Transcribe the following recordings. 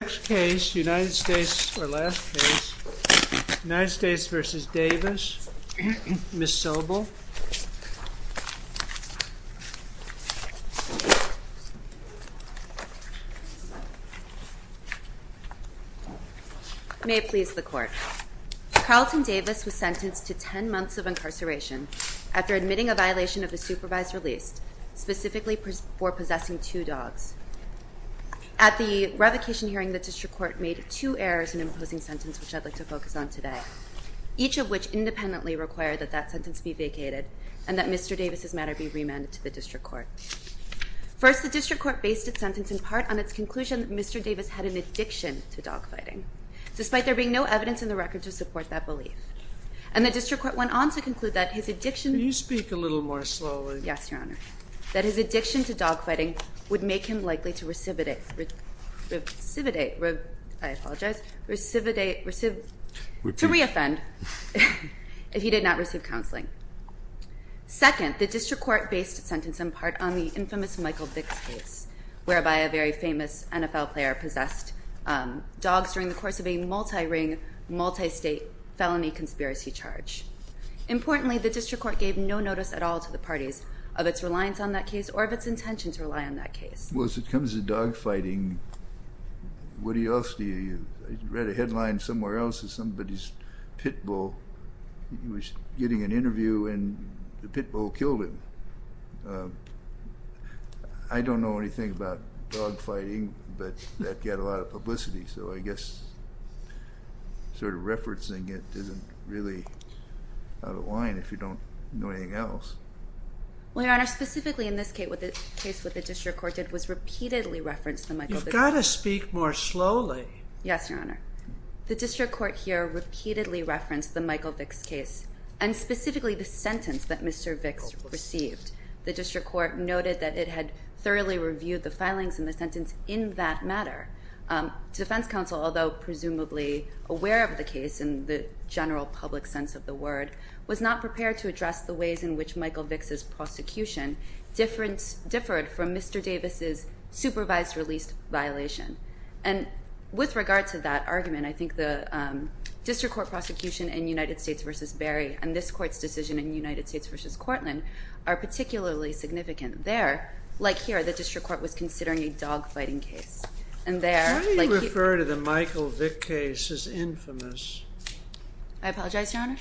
Next case, United States v. Davis. Ms. Sobel. May it please the court. Carlton Davis was sentenced to 10 months of incarceration after admitting a violation of a supervised release, specifically for possessing two dogs. At the revocation hearing, the district court made two errors in imposing sentence, which I'd like to focus on today, each of which independently required that that sentence be vacated and that Mr. Davis' matter be remanded to the district court. First, the district court based its sentence in part on its conclusion that Mr. Davis had an addiction to dogfighting, despite there being no evidence in the record to support that belief. And the district court went on to conclude that his addiction... Can you speak a little more slowly? Yes, Your Honor, that his addiction to dogfighting would make him likely to recividate... I apologize, to reoffend if he did not receive counseling. Second, the district court based its sentence in part on the infamous Michael Vicks case, whereby a very famous NFL player possessed dogs during the course of a multi-ring, multi-state felony conspiracy charge. Importantly, the district court gave no notice at all to the parties of its reliance on that case or of its intention to rely on that case. Well, as it comes to dogfighting, what else do you... I read a headline somewhere else that somebody's pit bull, he was getting an interview and the pit bull killed him. I don't know anything about dogfighting, but that got a lot of publicity, so I guess sort of referencing it isn't really out of line if you don't know anything else. Well, Your Honor, specifically in this case what the district court did was repeatedly reference the Michael Vicks case. You've got to speak more slowly. Yes, Your Honor. The district court here repeatedly referenced the Michael Vicks case and specifically the sentence that Mr. Vicks received. The district court noted that it had thoroughly reviewed the filings in the sentence in that matter. Defense counsel, although presumably aware of the case in the general public sense of the word, was not prepared to address the ways in which Michael Vicks' prosecution differed from Mr. Davis' supervised released violation. And with regard to that argument, I think the district court prosecution in United States v. Berry and this court's decision in United States v. Cortland are particularly significant there. Like here, the district court was considering a dogfighting case. How do you refer to the Michael Vicks case as infamous? I apologize, Your Honor.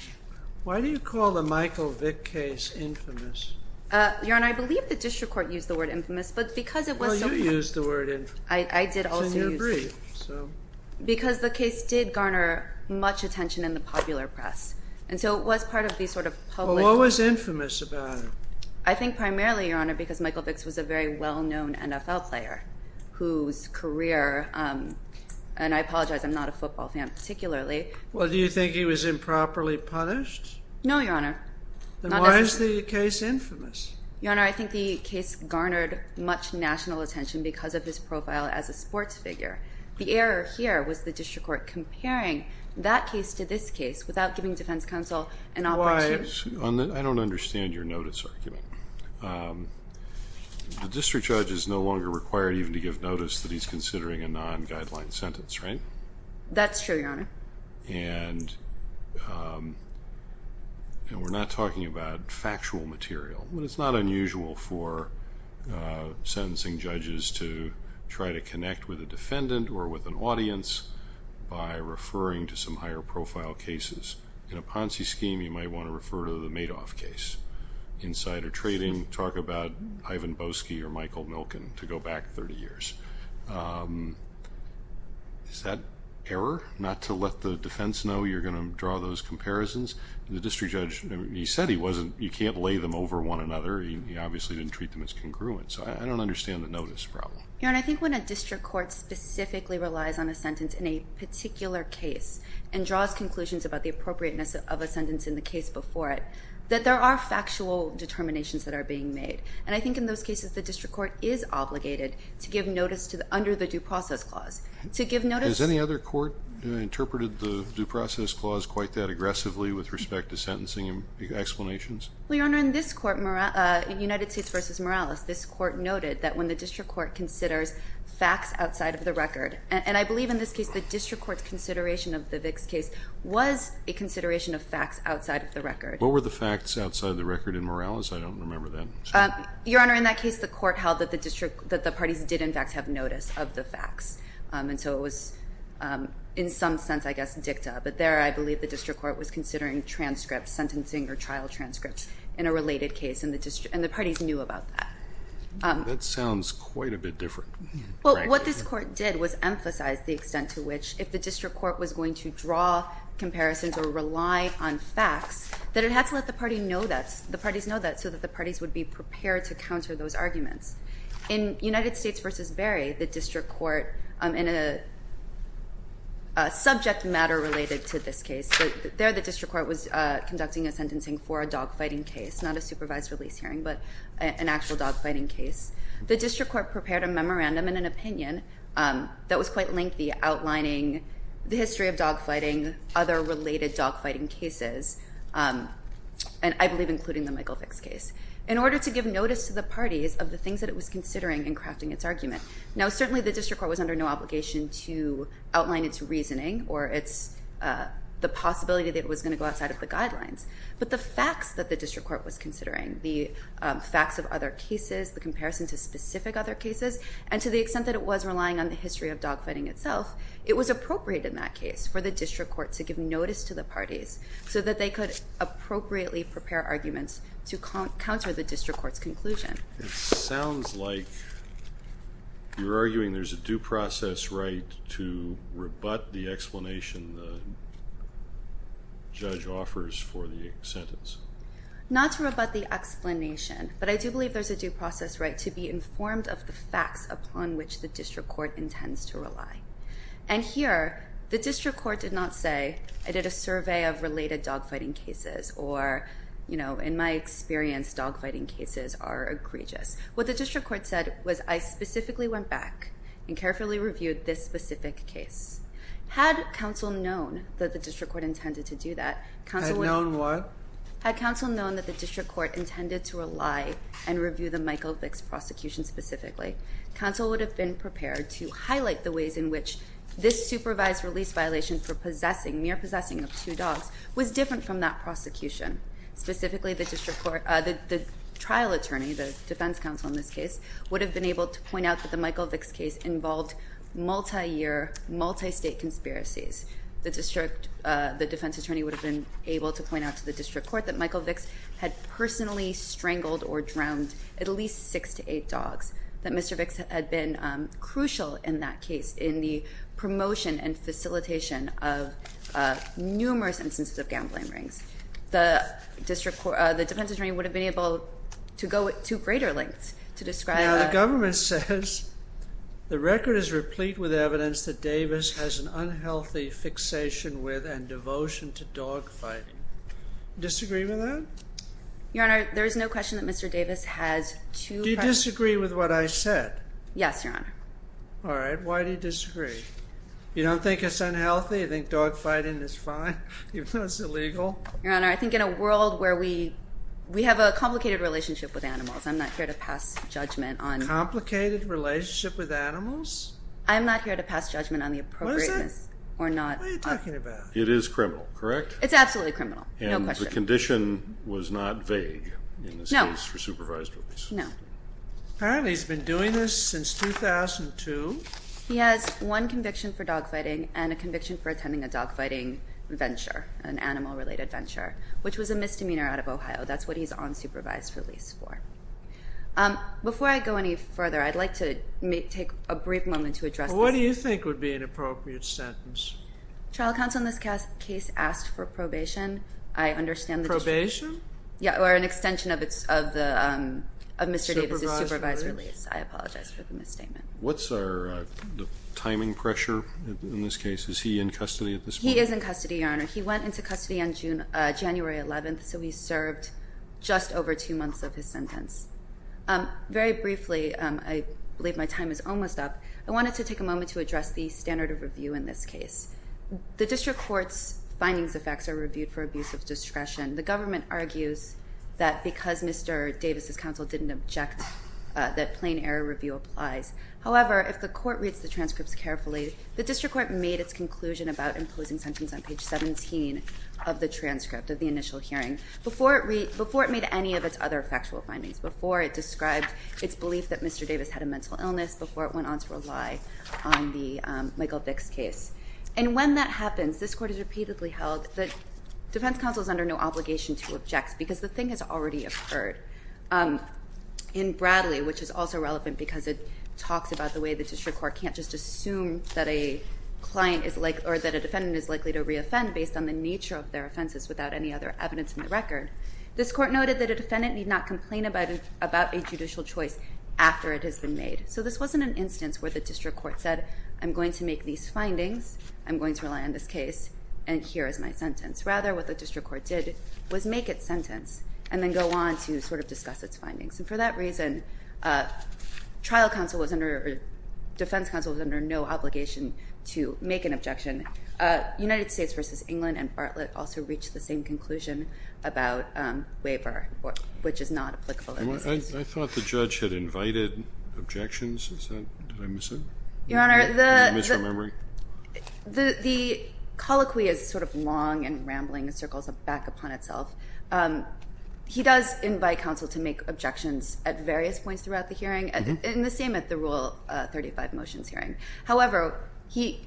Why do you call the Michael Vicks case infamous? Your Honor, I believe the district court used the word infamous, but because it was so- Well, you used the word infamous. I did also use it. It's in your brief, so- Because the case did garner much attention in the popular press, and so it was part of the sort of public- Well, what was infamous about it? I think primarily, Your Honor, because Michael Vicks was a very well-known NFL player whose career, and I apologize, I'm not a football fan particularly- Well, do you think he was improperly punished? No, Your Honor. Then why is the case infamous? Your Honor, I think the case garnered much national attention because of his profile as a sports figure. The error here was the district court comparing that case to this case without giving defense counsel an opportunity- I don't understand your notice argument. The district judge is no longer required even to give notice that he's considering a non-guideline sentence, right? That's true, Your Honor. And we're not talking about factual material. It's not unusual for sentencing judges to try to connect with a defendant or with an audience by referring to some higher-profile cases. In a Ponzi scheme, you might want to refer to the Madoff case. Insider trading, talk about Ivan Boesky or Michael Milken to go back 30 years. Is that error, not to let the defense know you're going to draw those comparisons? The district judge, he said you can't lay them over one another. He obviously didn't treat them as congruent, so I don't understand the notice problem. Your Honor, I think when a district court specifically relies on a sentence in a particular case and draws conclusions about the appropriateness of a sentence in the case before it, that there are factual determinations that are being made. And I think in those cases the district court is obligated to give notice under the due process clause. To give notice- Has any other court interpreted the due process clause quite that aggressively with respect to sentencing explanations? Well, Your Honor, in this court, United States v. Morales, this court noted that when the district court considers facts outside of the record, and I believe in this case the district court's consideration of the Vicks case was a consideration of facts outside of the record. What were the facts outside of the record in Morales? I don't remember that. Your Honor, in that case the court held that the parties did in fact have notice of the facts. And so it was in some sense, I guess, dicta. But there I believe the district court was considering transcripts, sentencing or trial transcripts in a related case, and the parties knew about that. That sounds quite a bit different. Well, what this court did was emphasize the extent to which if the district court was going to draw comparisons or rely on facts, that it had to let the parties know that so that the parties would be prepared to counter those arguments. In United States v. Berry, the district court, in a subject matter related to this case, there the district court was conducting a sentencing for a dogfighting case, not a supervised release hearing, but an actual dogfighting case. The district court prepared a memorandum and an opinion that was quite lengthy, outlining the history of dogfighting, other related dogfighting cases, and I believe including the Michael Fix case, in order to give notice to the parties of the things that it was considering in crafting its argument. Now certainly the district court was under no obligation to outline its reasoning or the possibility that it was going to go outside of the guidelines. But the facts that the district court was considering, the facts of other cases, the comparison to specific other cases, and to the extent that it was relying on the history of dogfighting itself, it was appropriate in that case for the district court to give notice to the parties so that they could appropriately prepare arguments to counter the district court's conclusion. It sounds like you're arguing there's a due process right to rebut the explanation the judge offers for the sentence. Not to rebut the explanation, but I do believe there's a due process right to be informed of the facts upon which the district court intends to rely. And here, the district court did not say, I did a survey of related dogfighting cases, or in my experience dogfighting cases are egregious. What the district court said was I specifically went back and carefully reviewed this specific case. Had counsel known that the district court intended to do that, Had known what? Had counsel known that the district court intended to rely and review the Michael Vicks prosecution specifically, counsel would have been prepared to highlight the ways in which this supervised release violation for mere possessing of two dogs was different from that prosecution. Specifically, the trial attorney, the defense counsel in this case, would have been able to point out that the Michael Vicks case involved multi-year, multi-state conspiracies. The defense attorney would have been able to point out to the district court that Michael Vicks had personally strangled or drowned at least six to eight dogs. That Mr. Vicks had been crucial in that case in the promotion and facilitation of numerous instances of gambling rings. The defense attorney would have been able to go to greater lengths to describe that. Now, the government says the record is replete with evidence that Davis has an unhealthy fixation with and devotion to dogfighting. Disagree with that? Your Honor, there is no question that Mr. Davis has two... Do you disagree with what I said? Yes, Your Honor. All right. Why do you disagree? You don't think it's unhealthy? You think dogfighting is fine, even though it's illegal? Your Honor, I think in a world where we have a complicated relationship with animals, I'm not here to pass judgment on... A complicated relationship with animals? I'm not here to pass judgment on the appropriateness... What is it? ...or not... What are you talking about? It is criminal, correct? It's absolutely criminal. No question. And the condition was not vague in this case for supervised release? No. Apparently, he's been doing this since 2002. He has one conviction for dogfighting and a conviction for attending a dogfighting venture, an animal-related venture, which was a misdemeanor out of Ohio. That's what he's on supervised release for. Before I go any further, I'd like to take a brief moment to address this... What do you think would be an appropriate sentence? Trial counsel in this case asked for probation. I understand the district... Probation? Yeah, or an extension of Mr. Davis's supervised release. I apologize for the misstatement. What's the timing pressure in this case? Is he in custody at this point? He is in custody, Your Honor. He went into custody on January 11th, so he served just over two months of his sentence. Very briefly, I believe my time is almost up. I wanted to take a moment to address the standard of review in this case. The district court's findings of facts are reviewed for abuse of discretion. The government argues that because Mr. Davis's counsel didn't object, that plain error review applies. However, if the court reads the transcripts carefully, the district court made its conclusion about imposing sentence on page 17 of the transcript of the initial hearing before it made any of its other factual findings, before it described its belief that Mr. Davis had a mental illness, before it went on to rely on the Michael Vicks case. And when that happens, this court has repeatedly held that defense counsel is under no obligation to object because the thing has already occurred. In Bradley, which is also relevant because it talks about the way the district court can't just assume that a defendant is likely to reoffend based on the nature of their offenses without any other evidence in the record, this court noted that a defendant need not complain about a judicial choice after it has been made. So this wasn't an instance where the district court said, I'm going to make these findings, I'm going to rely on this case, and here is my sentence. Rather, what the district court did was make its sentence and then go on to sort of discuss its findings. And for that reason, defense counsel was under no obligation to make an objection. United States v. England and Bartlett also reached the same conclusion about waiver, which is not applicable in this case. I thought the judge had invited objections. Did I miss it? Your Honor, the colloquy is sort of long and rambling. It circles back upon itself. He does invite counsel to make objections at various points throughout the hearing, and the same at the Rule 35 motions hearing. However, he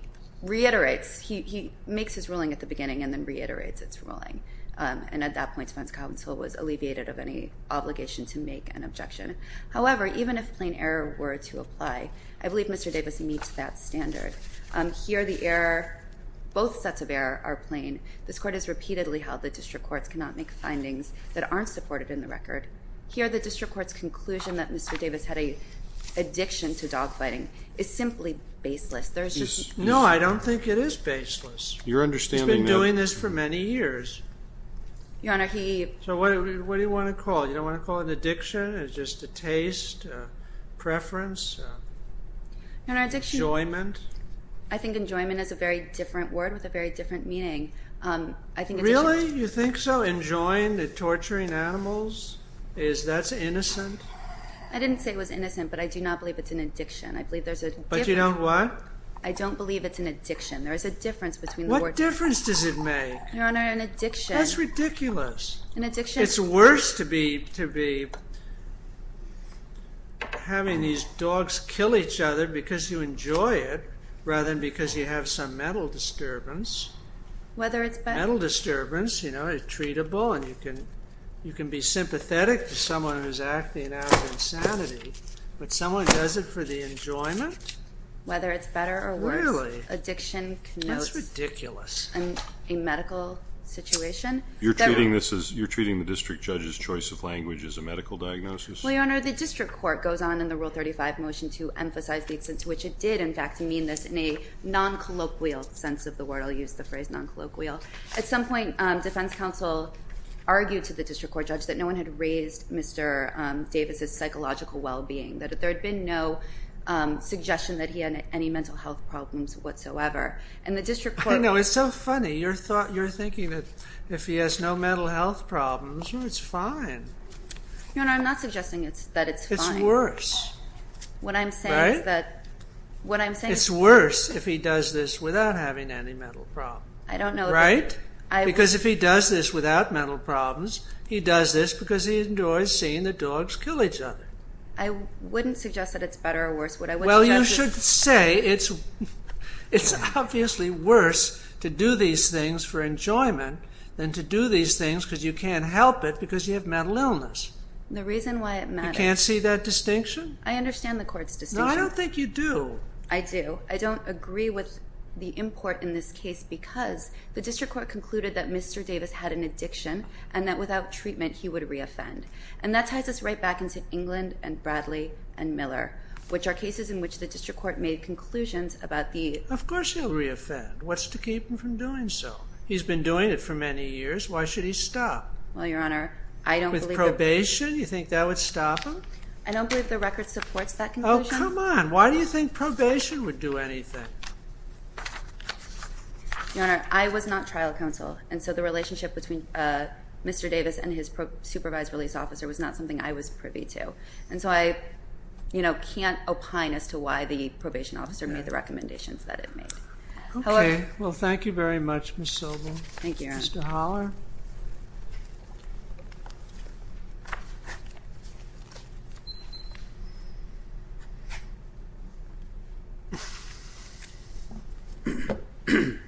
reiterates, he makes his ruling at the beginning and then reiterates its ruling. And at that point, defense counsel was alleviated of any obligation to make an objection. However, even if plain error were to apply, I believe Mr. Davis meets that standard. Here, the error, both sets of error are plain. This Court has repeatedly held that district courts cannot make findings that aren't supported in the record. Here, the district court's conclusion that Mr. Davis had an addiction to dogfighting is simply baseless. No, I don't think it is baseless. You're understanding that. He's been doing this for many years. Your Honor, he… So what do you want to call it? You don't want to call it an addiction, just a taste, a preference, an enjoyment? I think enjoyment is a very different word with a very different meaning. Really? You think so? Enjoying and torturing animals? That's innocent? I didn't say it was innocent, but I do not believe it's an addiction. I believe there's a difference. But you don't what? I don't believe it's an addiction. There is a difference between the words. What difference does it make? Your Honor, an addiction. That's ridiculous. An addiction. It's worse to be having these dogs kill each other because you enjoy it rather than because you have some mental disturbance. Whether it's better. Mental disturbance, you know, it's treatable and you can be sympathetic to someone who's acting out of insanity, but someone does it for the enjoyment? Whether it's better or worse. Really? Addiction connotes a medical situation. You're treating the district judge's choice of language as a medical diagnosis? Well, Your Honor, the district court goes on in the Rule 35 motion to emphasize the extent to which it did, in fact, mean this in a non-colloquial sense of the word. I'll use the phrase non-colloquial. At some point, defense counsel argued to the district court judge that no one had raised Mr. Davis' psychological well-being, that there had been no suggestion that he had any mental health problems whatsoever. And the district court. I know, it's so funny. You're thinking that if he has no mental health problems, it's fine. Your Honor, I'm not suggesting that it's fine. It's worse. What I'm saying is that. Right? What I'm saying is. It's worse if he does this without having any mental problems. I don't know. Right? Because if he does this without mental problems, he does this because he enjoys seeing the dogs kill each other. I wouldn't suggest that it's better or worse. Well, you should say it's obviously worse to do these things for enjoyment than to do these things because you can't help it because you have mental illness. The reason why it matters. You can't see that distinction? I understand the court's distinction. No, I don't think you do. I do. I don't agree with the import in this case because the district court concluded that Mr. Davis had an addiction and that without treatment, he would re-offend. And that ties us right back into England and Bradley and Miller, which are cases in which the district court made conclusions about the. Of course he'll re-offend. What's to keep him from doing so? He's been doing it for many years. Why should he stop? Well, Your Honor, I don't believe. With probation, you think that would stop him? I don't believe the record supports that conclusion. Oh, come on. Why do you think probation would do anything? Your Honor, I was not trial counsel. And so the relationship between Mr. Davis and his supervised release officer was not something I was privy to. And so I, you know, can't opine as to why the probation officer made the recommendations that it made. Okay. Well, thank you very much, Ms. Sobel. Thank you, Your Honor. Mr. Holler? Thank you, Your Honor.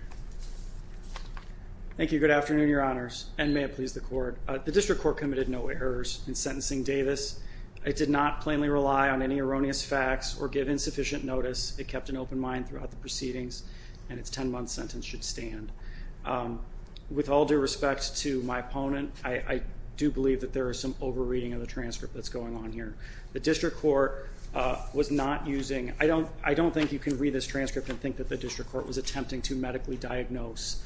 Thank you. Good afternoon, Your Honors, and may it please the court. The district court committed no errors in sentencing Davis. It did not plainly rely on any erroneous facts or give insufficient notice. It kept an open mind throughout the proceedings, and its 10-month sentence should stand. With all due respect to my opponent, I do believe that there is some over-reading of the transcript that's going on here. The district court was not using, I don't think you can read this transcript and think that the district court was attempting to medically diagnose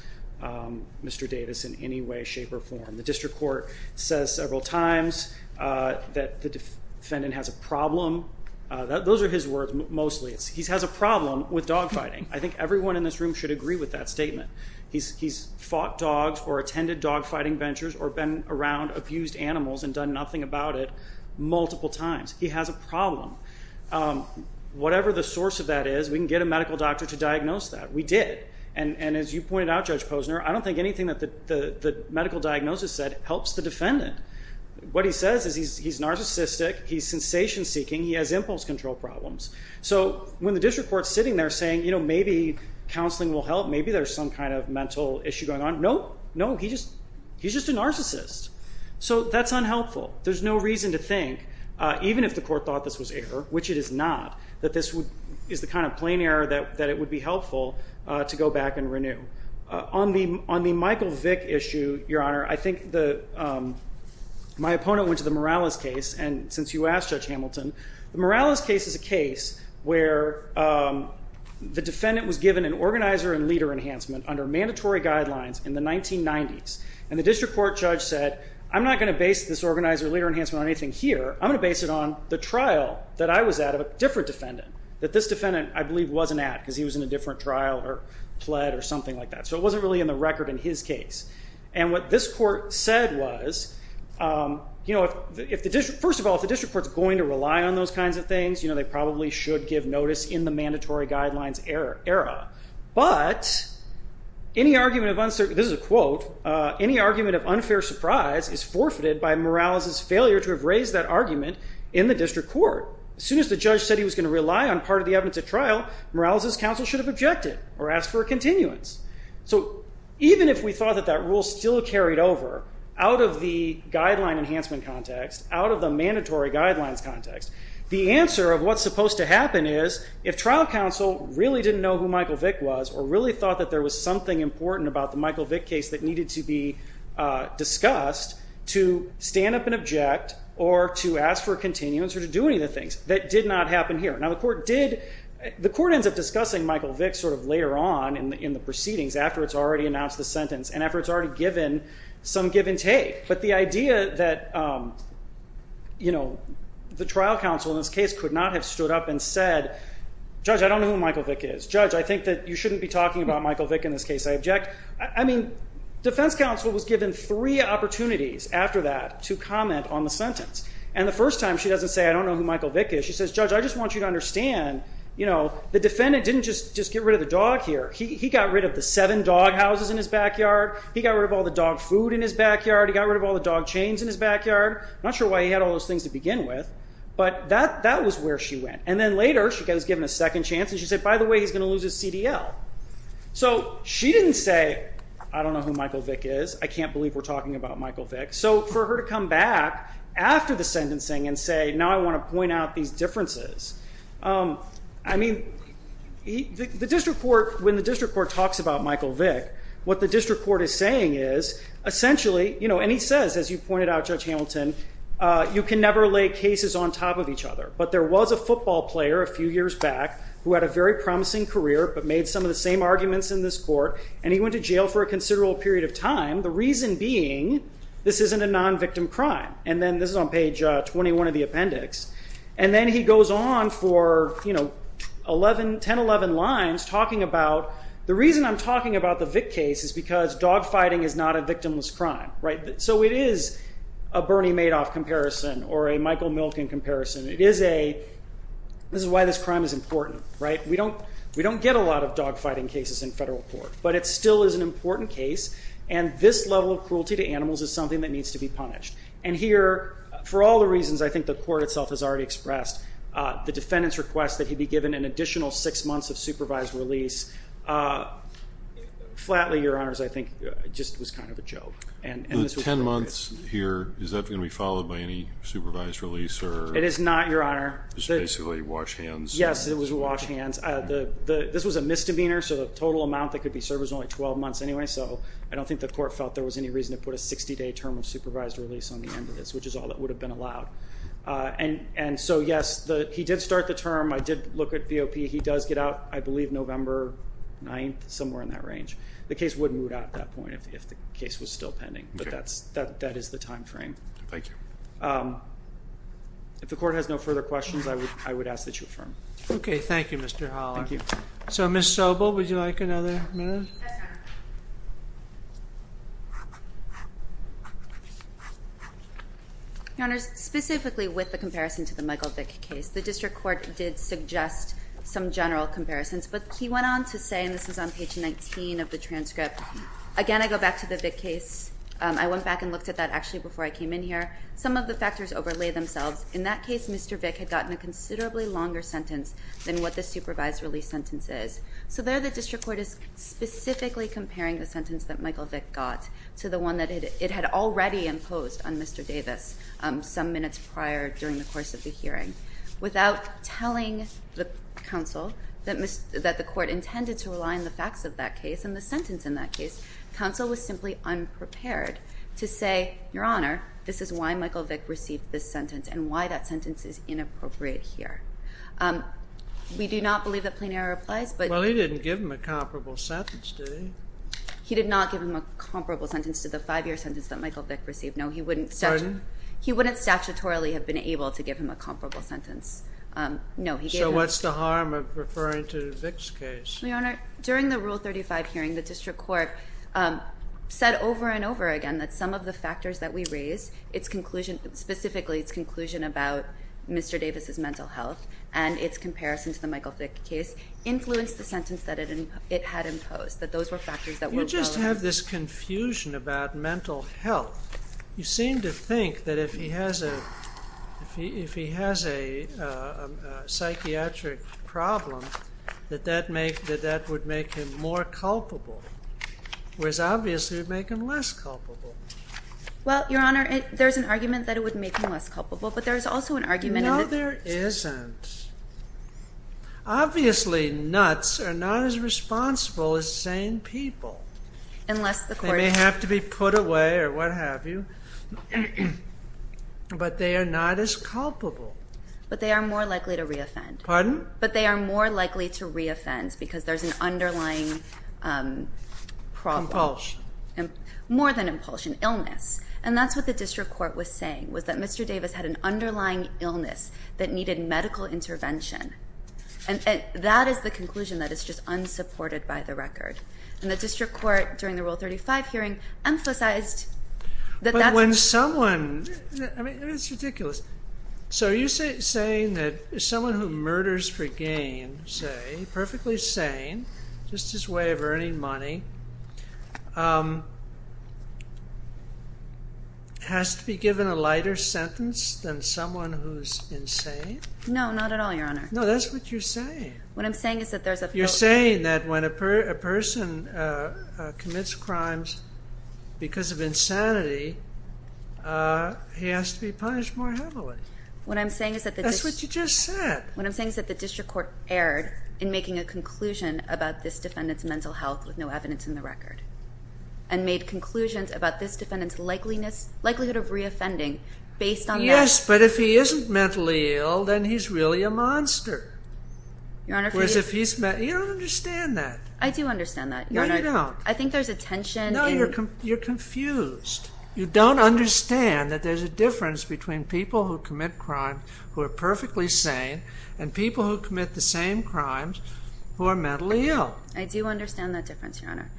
Mr. Davis in any way, shape, or form. The district court says several times that the defendant has a problem. Those are his words mostly. He has a problem with dog fighting. He's fought dogs or attended dog fighting ventures or been around abused animals and done nothing about it multiple times. He has a problem. Whatever the source of that is, we can get a medical doctor to diagnose that. We did. And as you pointed out, Judge Posner, I don't think anything that the medical diagnosis said helps the defendant. What he says is he's narcissistic, he's sensation-seeking, he has impulse control problems. So when the district court's sitting there saying, you know, maybe counseling will help, maybe there's some kind of mental issue going on, no, no, he's just a narcissist. So that's unhelpful. There's no reason to think, even if the court thought this was error, which it is not, that this is the kind of plain error that it would be helpful to go back and renew. On the Michael Vick issue, Your Honor, I think my opponent went to the Morales case, and since you asked Judge Hamilton, the Morales case is a case where the defendant was given an organizer and leader enhancement under mandatory guidelines in the 1990s. And the district court judge said, I'm not going to base this organizer and leader enhancement on anything here. I'm going to base it on the trial that I was at of a different defendant that this defendant, I believe, wasn't at because he was in a different trial or pled or something like that. So it wasn't really in the record in his case. And what this court said was, you know, first of all, if the district court is going to rely on those kinds of things, you know, they probably should give notice in the mandatory guidelines era. But any argument of, this is a quote, any argument of unfair surprise is forfeited by Morales's failure to have raised that argument in the district court. As soon as the judge said he was going to rely on part of the evidence at trial, Morales's counsel should have objected or asked for a continuance. So even if we thought that that rule still carried over out of the guideline enhancement context, out of the mandatory guidelines context, the answer of what's supposed to happen is if trial counsel really didn't know who Michael Vick was or really thought that there was something important about the Michael Vick case that needed to be discussed, to stand up and object or to ask for a continuance or to do any of the things. That did not happen here. Now the court did, the court ends up discussing Michael Vick sort of later on in the proceedings after it's already announced the sentence and after it's already given some give and take. But the idea that, you know, the trial counsel in this case could not have stood up and said, judge, I don't know who Michael Vick is. Judge, I think that you shouldn't be talking about Michael Vick in this case. I object. I mean, defense counsel was given three opportunities after that to comment on the sentence. And the first time she doesn't say, I don't know who Michael Vick is. She says, judge, I just want you to understand, you know, the defendant didn't just get rid of the dog here. He got rid of the seven dog houses in his backyard. He got rid of all the dog food in his backyard. He got rid of all the dog chains in his backyard. I'm not sure why he had all those things to begin with. But that was where she went. And then later, she was given a second chance. And she said, by the way, he's going to lose his CDL. So she didn't say, I don't know who Michael Vick is. I can't believe we're talking about Michael Vick. So for her to come back after the sentencing and say, now I want to point out these differences. I mean, the district court, when the district court talks about Michael Vick, what the district court is saying is, essentially, you know, and he says, as you pointed out, Judge Hamilton, you can never lay cases on top of each other. But there was a football player a few years back who had a very promising career, but made some of the same arguments in this court, and he went to jail for a considerable period of time. The reason being, this isn't a non-victim crime. And then this is on page 21 of the appendix. And then he goes on for 10, 11 lines talking about, the reason I'm talking about the Vick case is because dogfighting is not a victimless crime. So it is a Bernie Madoff comparison or a Michael Milken comparison. It is a, this is why this crime is important. We don't get a lot of dogfighting cases in federal court, but it still is an important case. And this level of cruelty to animals is something that needs to be punished. And here, for all the reasons I think the court itself has already expressed, the defendant's request that he be given an additional six months of supervised release, flatly, Your Honors, I think just was kind of a joke. The 10 months here, is that going to be followed by any supervised release? It is not, Your Honor. It's basically wash hands. Yes, it was wash hands. This was a misdemeanor, so the total amount that could be served was only 12 months anyway. So I don't think the court felt there was any reason to put a 60-day term of supervised release on the end of this, which is all that would have been allowed. And so, yes, he did start the term. I did look at VOP. He does get out, I believe, November 9th, somewhere in that range. The case would move out at that point if the case was still pending. But that is the time frame. Thank you. If the court has no further questions, I would ask that you affirm. Okay, thank you, Mr. Holler. Thank you. So, Ms. Sobel, would you like another minute? Yes, Your Honor. Your Honors, specifically with the comparison to the Michael Vick case, the district court did suggest some general comparisons. But he went on to say, and this is on page 19 of the transcript, again, I go back to the Vick case. I went back and looked at that actually before I came in here. Some of the factors overlay themselves. In that case, Mr. Vick had gotten a considerably longer sentence than what the supervised release sentence is. So there the district court is specifically comparing the sentence that Michael Vick got to the one that it had already imposed on Mr. Davis some minutes prior during the course of the hearing. Without telling the counsel that the court intended to rely on the facts of that case and the sentence in that case, counsel was simply unprepared to say, Your Honor, this is why Michael Vick received this sentence and why that sentence is inappropriate here. We do not believe that plain error applies. Well, he didn't give him a comparable sentence, did he? He did not give him a comparable sentence to the five-year sentence that Michael Vick received. Pardon? No, he wouldn't statutorily have been able to give him a comparable sentence. So what's the harm of referring to Vick's case? Your Honor, during the Rule 35 hearing, the district court said over and over again that some of the factors that we raise, specifically its conclusion about Mr. Davis' mental health and its comparison to the Michael Vick case, influenced the sentence that it had imposed, that those were factors that were relevant. You just have this confusion about mental health. You seem to think that if he has a psychiatric problem, that that would make him more culpable, whereas obviously it would make him less culpable. Well, Your Honor, there's an argument that it would make him less culpable, but there's also an argument that No, there isn't. Obviously, nuts are not as responsible as sane people. Unless the court They may have to be put away or what have you, but they are not as culpable. But they are more likely to re-offend. Pardon? But they are more likely to re-offend because there's an underlying problem. Impulsion. More than impulsion. Illness. And that's what the district court was saying, was that Mr. Davis had an underlying illness that needed medical intervention. And that is the conclusion that is just unsupported by the record. And the district court, during the Rule 35 hearing, emphasized that that's But when someone, I mean, it's ridiculous. So are you saying that someone who murders for gain, say, perfectly sane, just his way of earning money, has to be given a lighter sentence than someone who's insane? No, not at all, Your Honor. No, that's what you're saying. What I'm saying is that there's a You're saying that when a person commits crimes because of insanity, he has to be punished more heavily. That's what you just said. What I'm saying is that the district court erred in making a conclusion about this defendant's mental health with no evidence in the record and made conclusions about this defendant's likelihood of re-offending based on that. Yes, but if he isn't mentally ill, then he's really a monster. You don't understand that. I do understand that. No, you don't. I think there's a tension in No, you're confused. You don't understand that there's a difference between people who commit crimes who are perfectly sane and people who commit the same crimes who are mentally ill. I do understand that difference, Your Honor.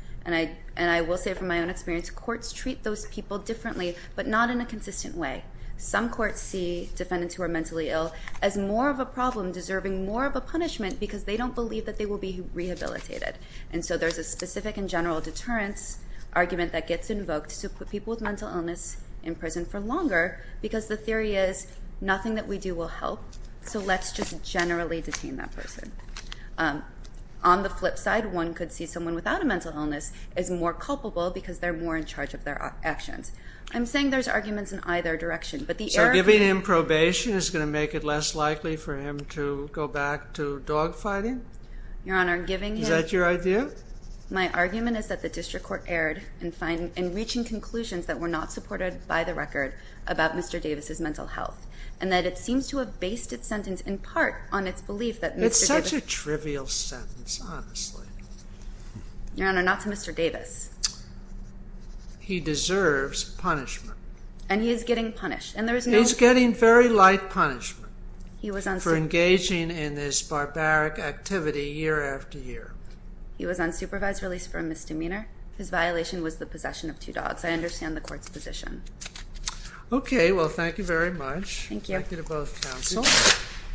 And I will say from my own experience, courts treat those people differently, but not in a consistent way. Some courts see defendants who are mentally ill as more of a problem, deserving more of a punishment because they don't believe that they will be rehabilitated. And so there's a specific and general deterrence argument that gets invoked to put people with mental illness in prison for longer because the theory is nothing that we do will help, so let's just generally detain that person. On the flip side, one could see someone without a mental illness is more culpable because they're more in charge of their actions. I'm saying there's arguments in either direction. So giving him probation is going to make it less likely for him to go back to dogfighting? Your Honor, giving him... Is that your idea? My argument is that the district court erred in reaching conclusions that were not supported by the record about Mr. Davis' mental health and that it seems to have based its sentence in part on its belief that Mr. Davis... It's such a trivial sentence, honestly. Your Honor, not to Mr. Davis. He deserves punishment. And he is getting punished, and there is no... He's getting very light punishment for engaging in this barbaric activity year after year. He was unsupervised release for a misdemeanor. His violation was the possession of two dogs. I understand the court's position. Okay, well, thank you very much. Thank you. Thank you to both counsels.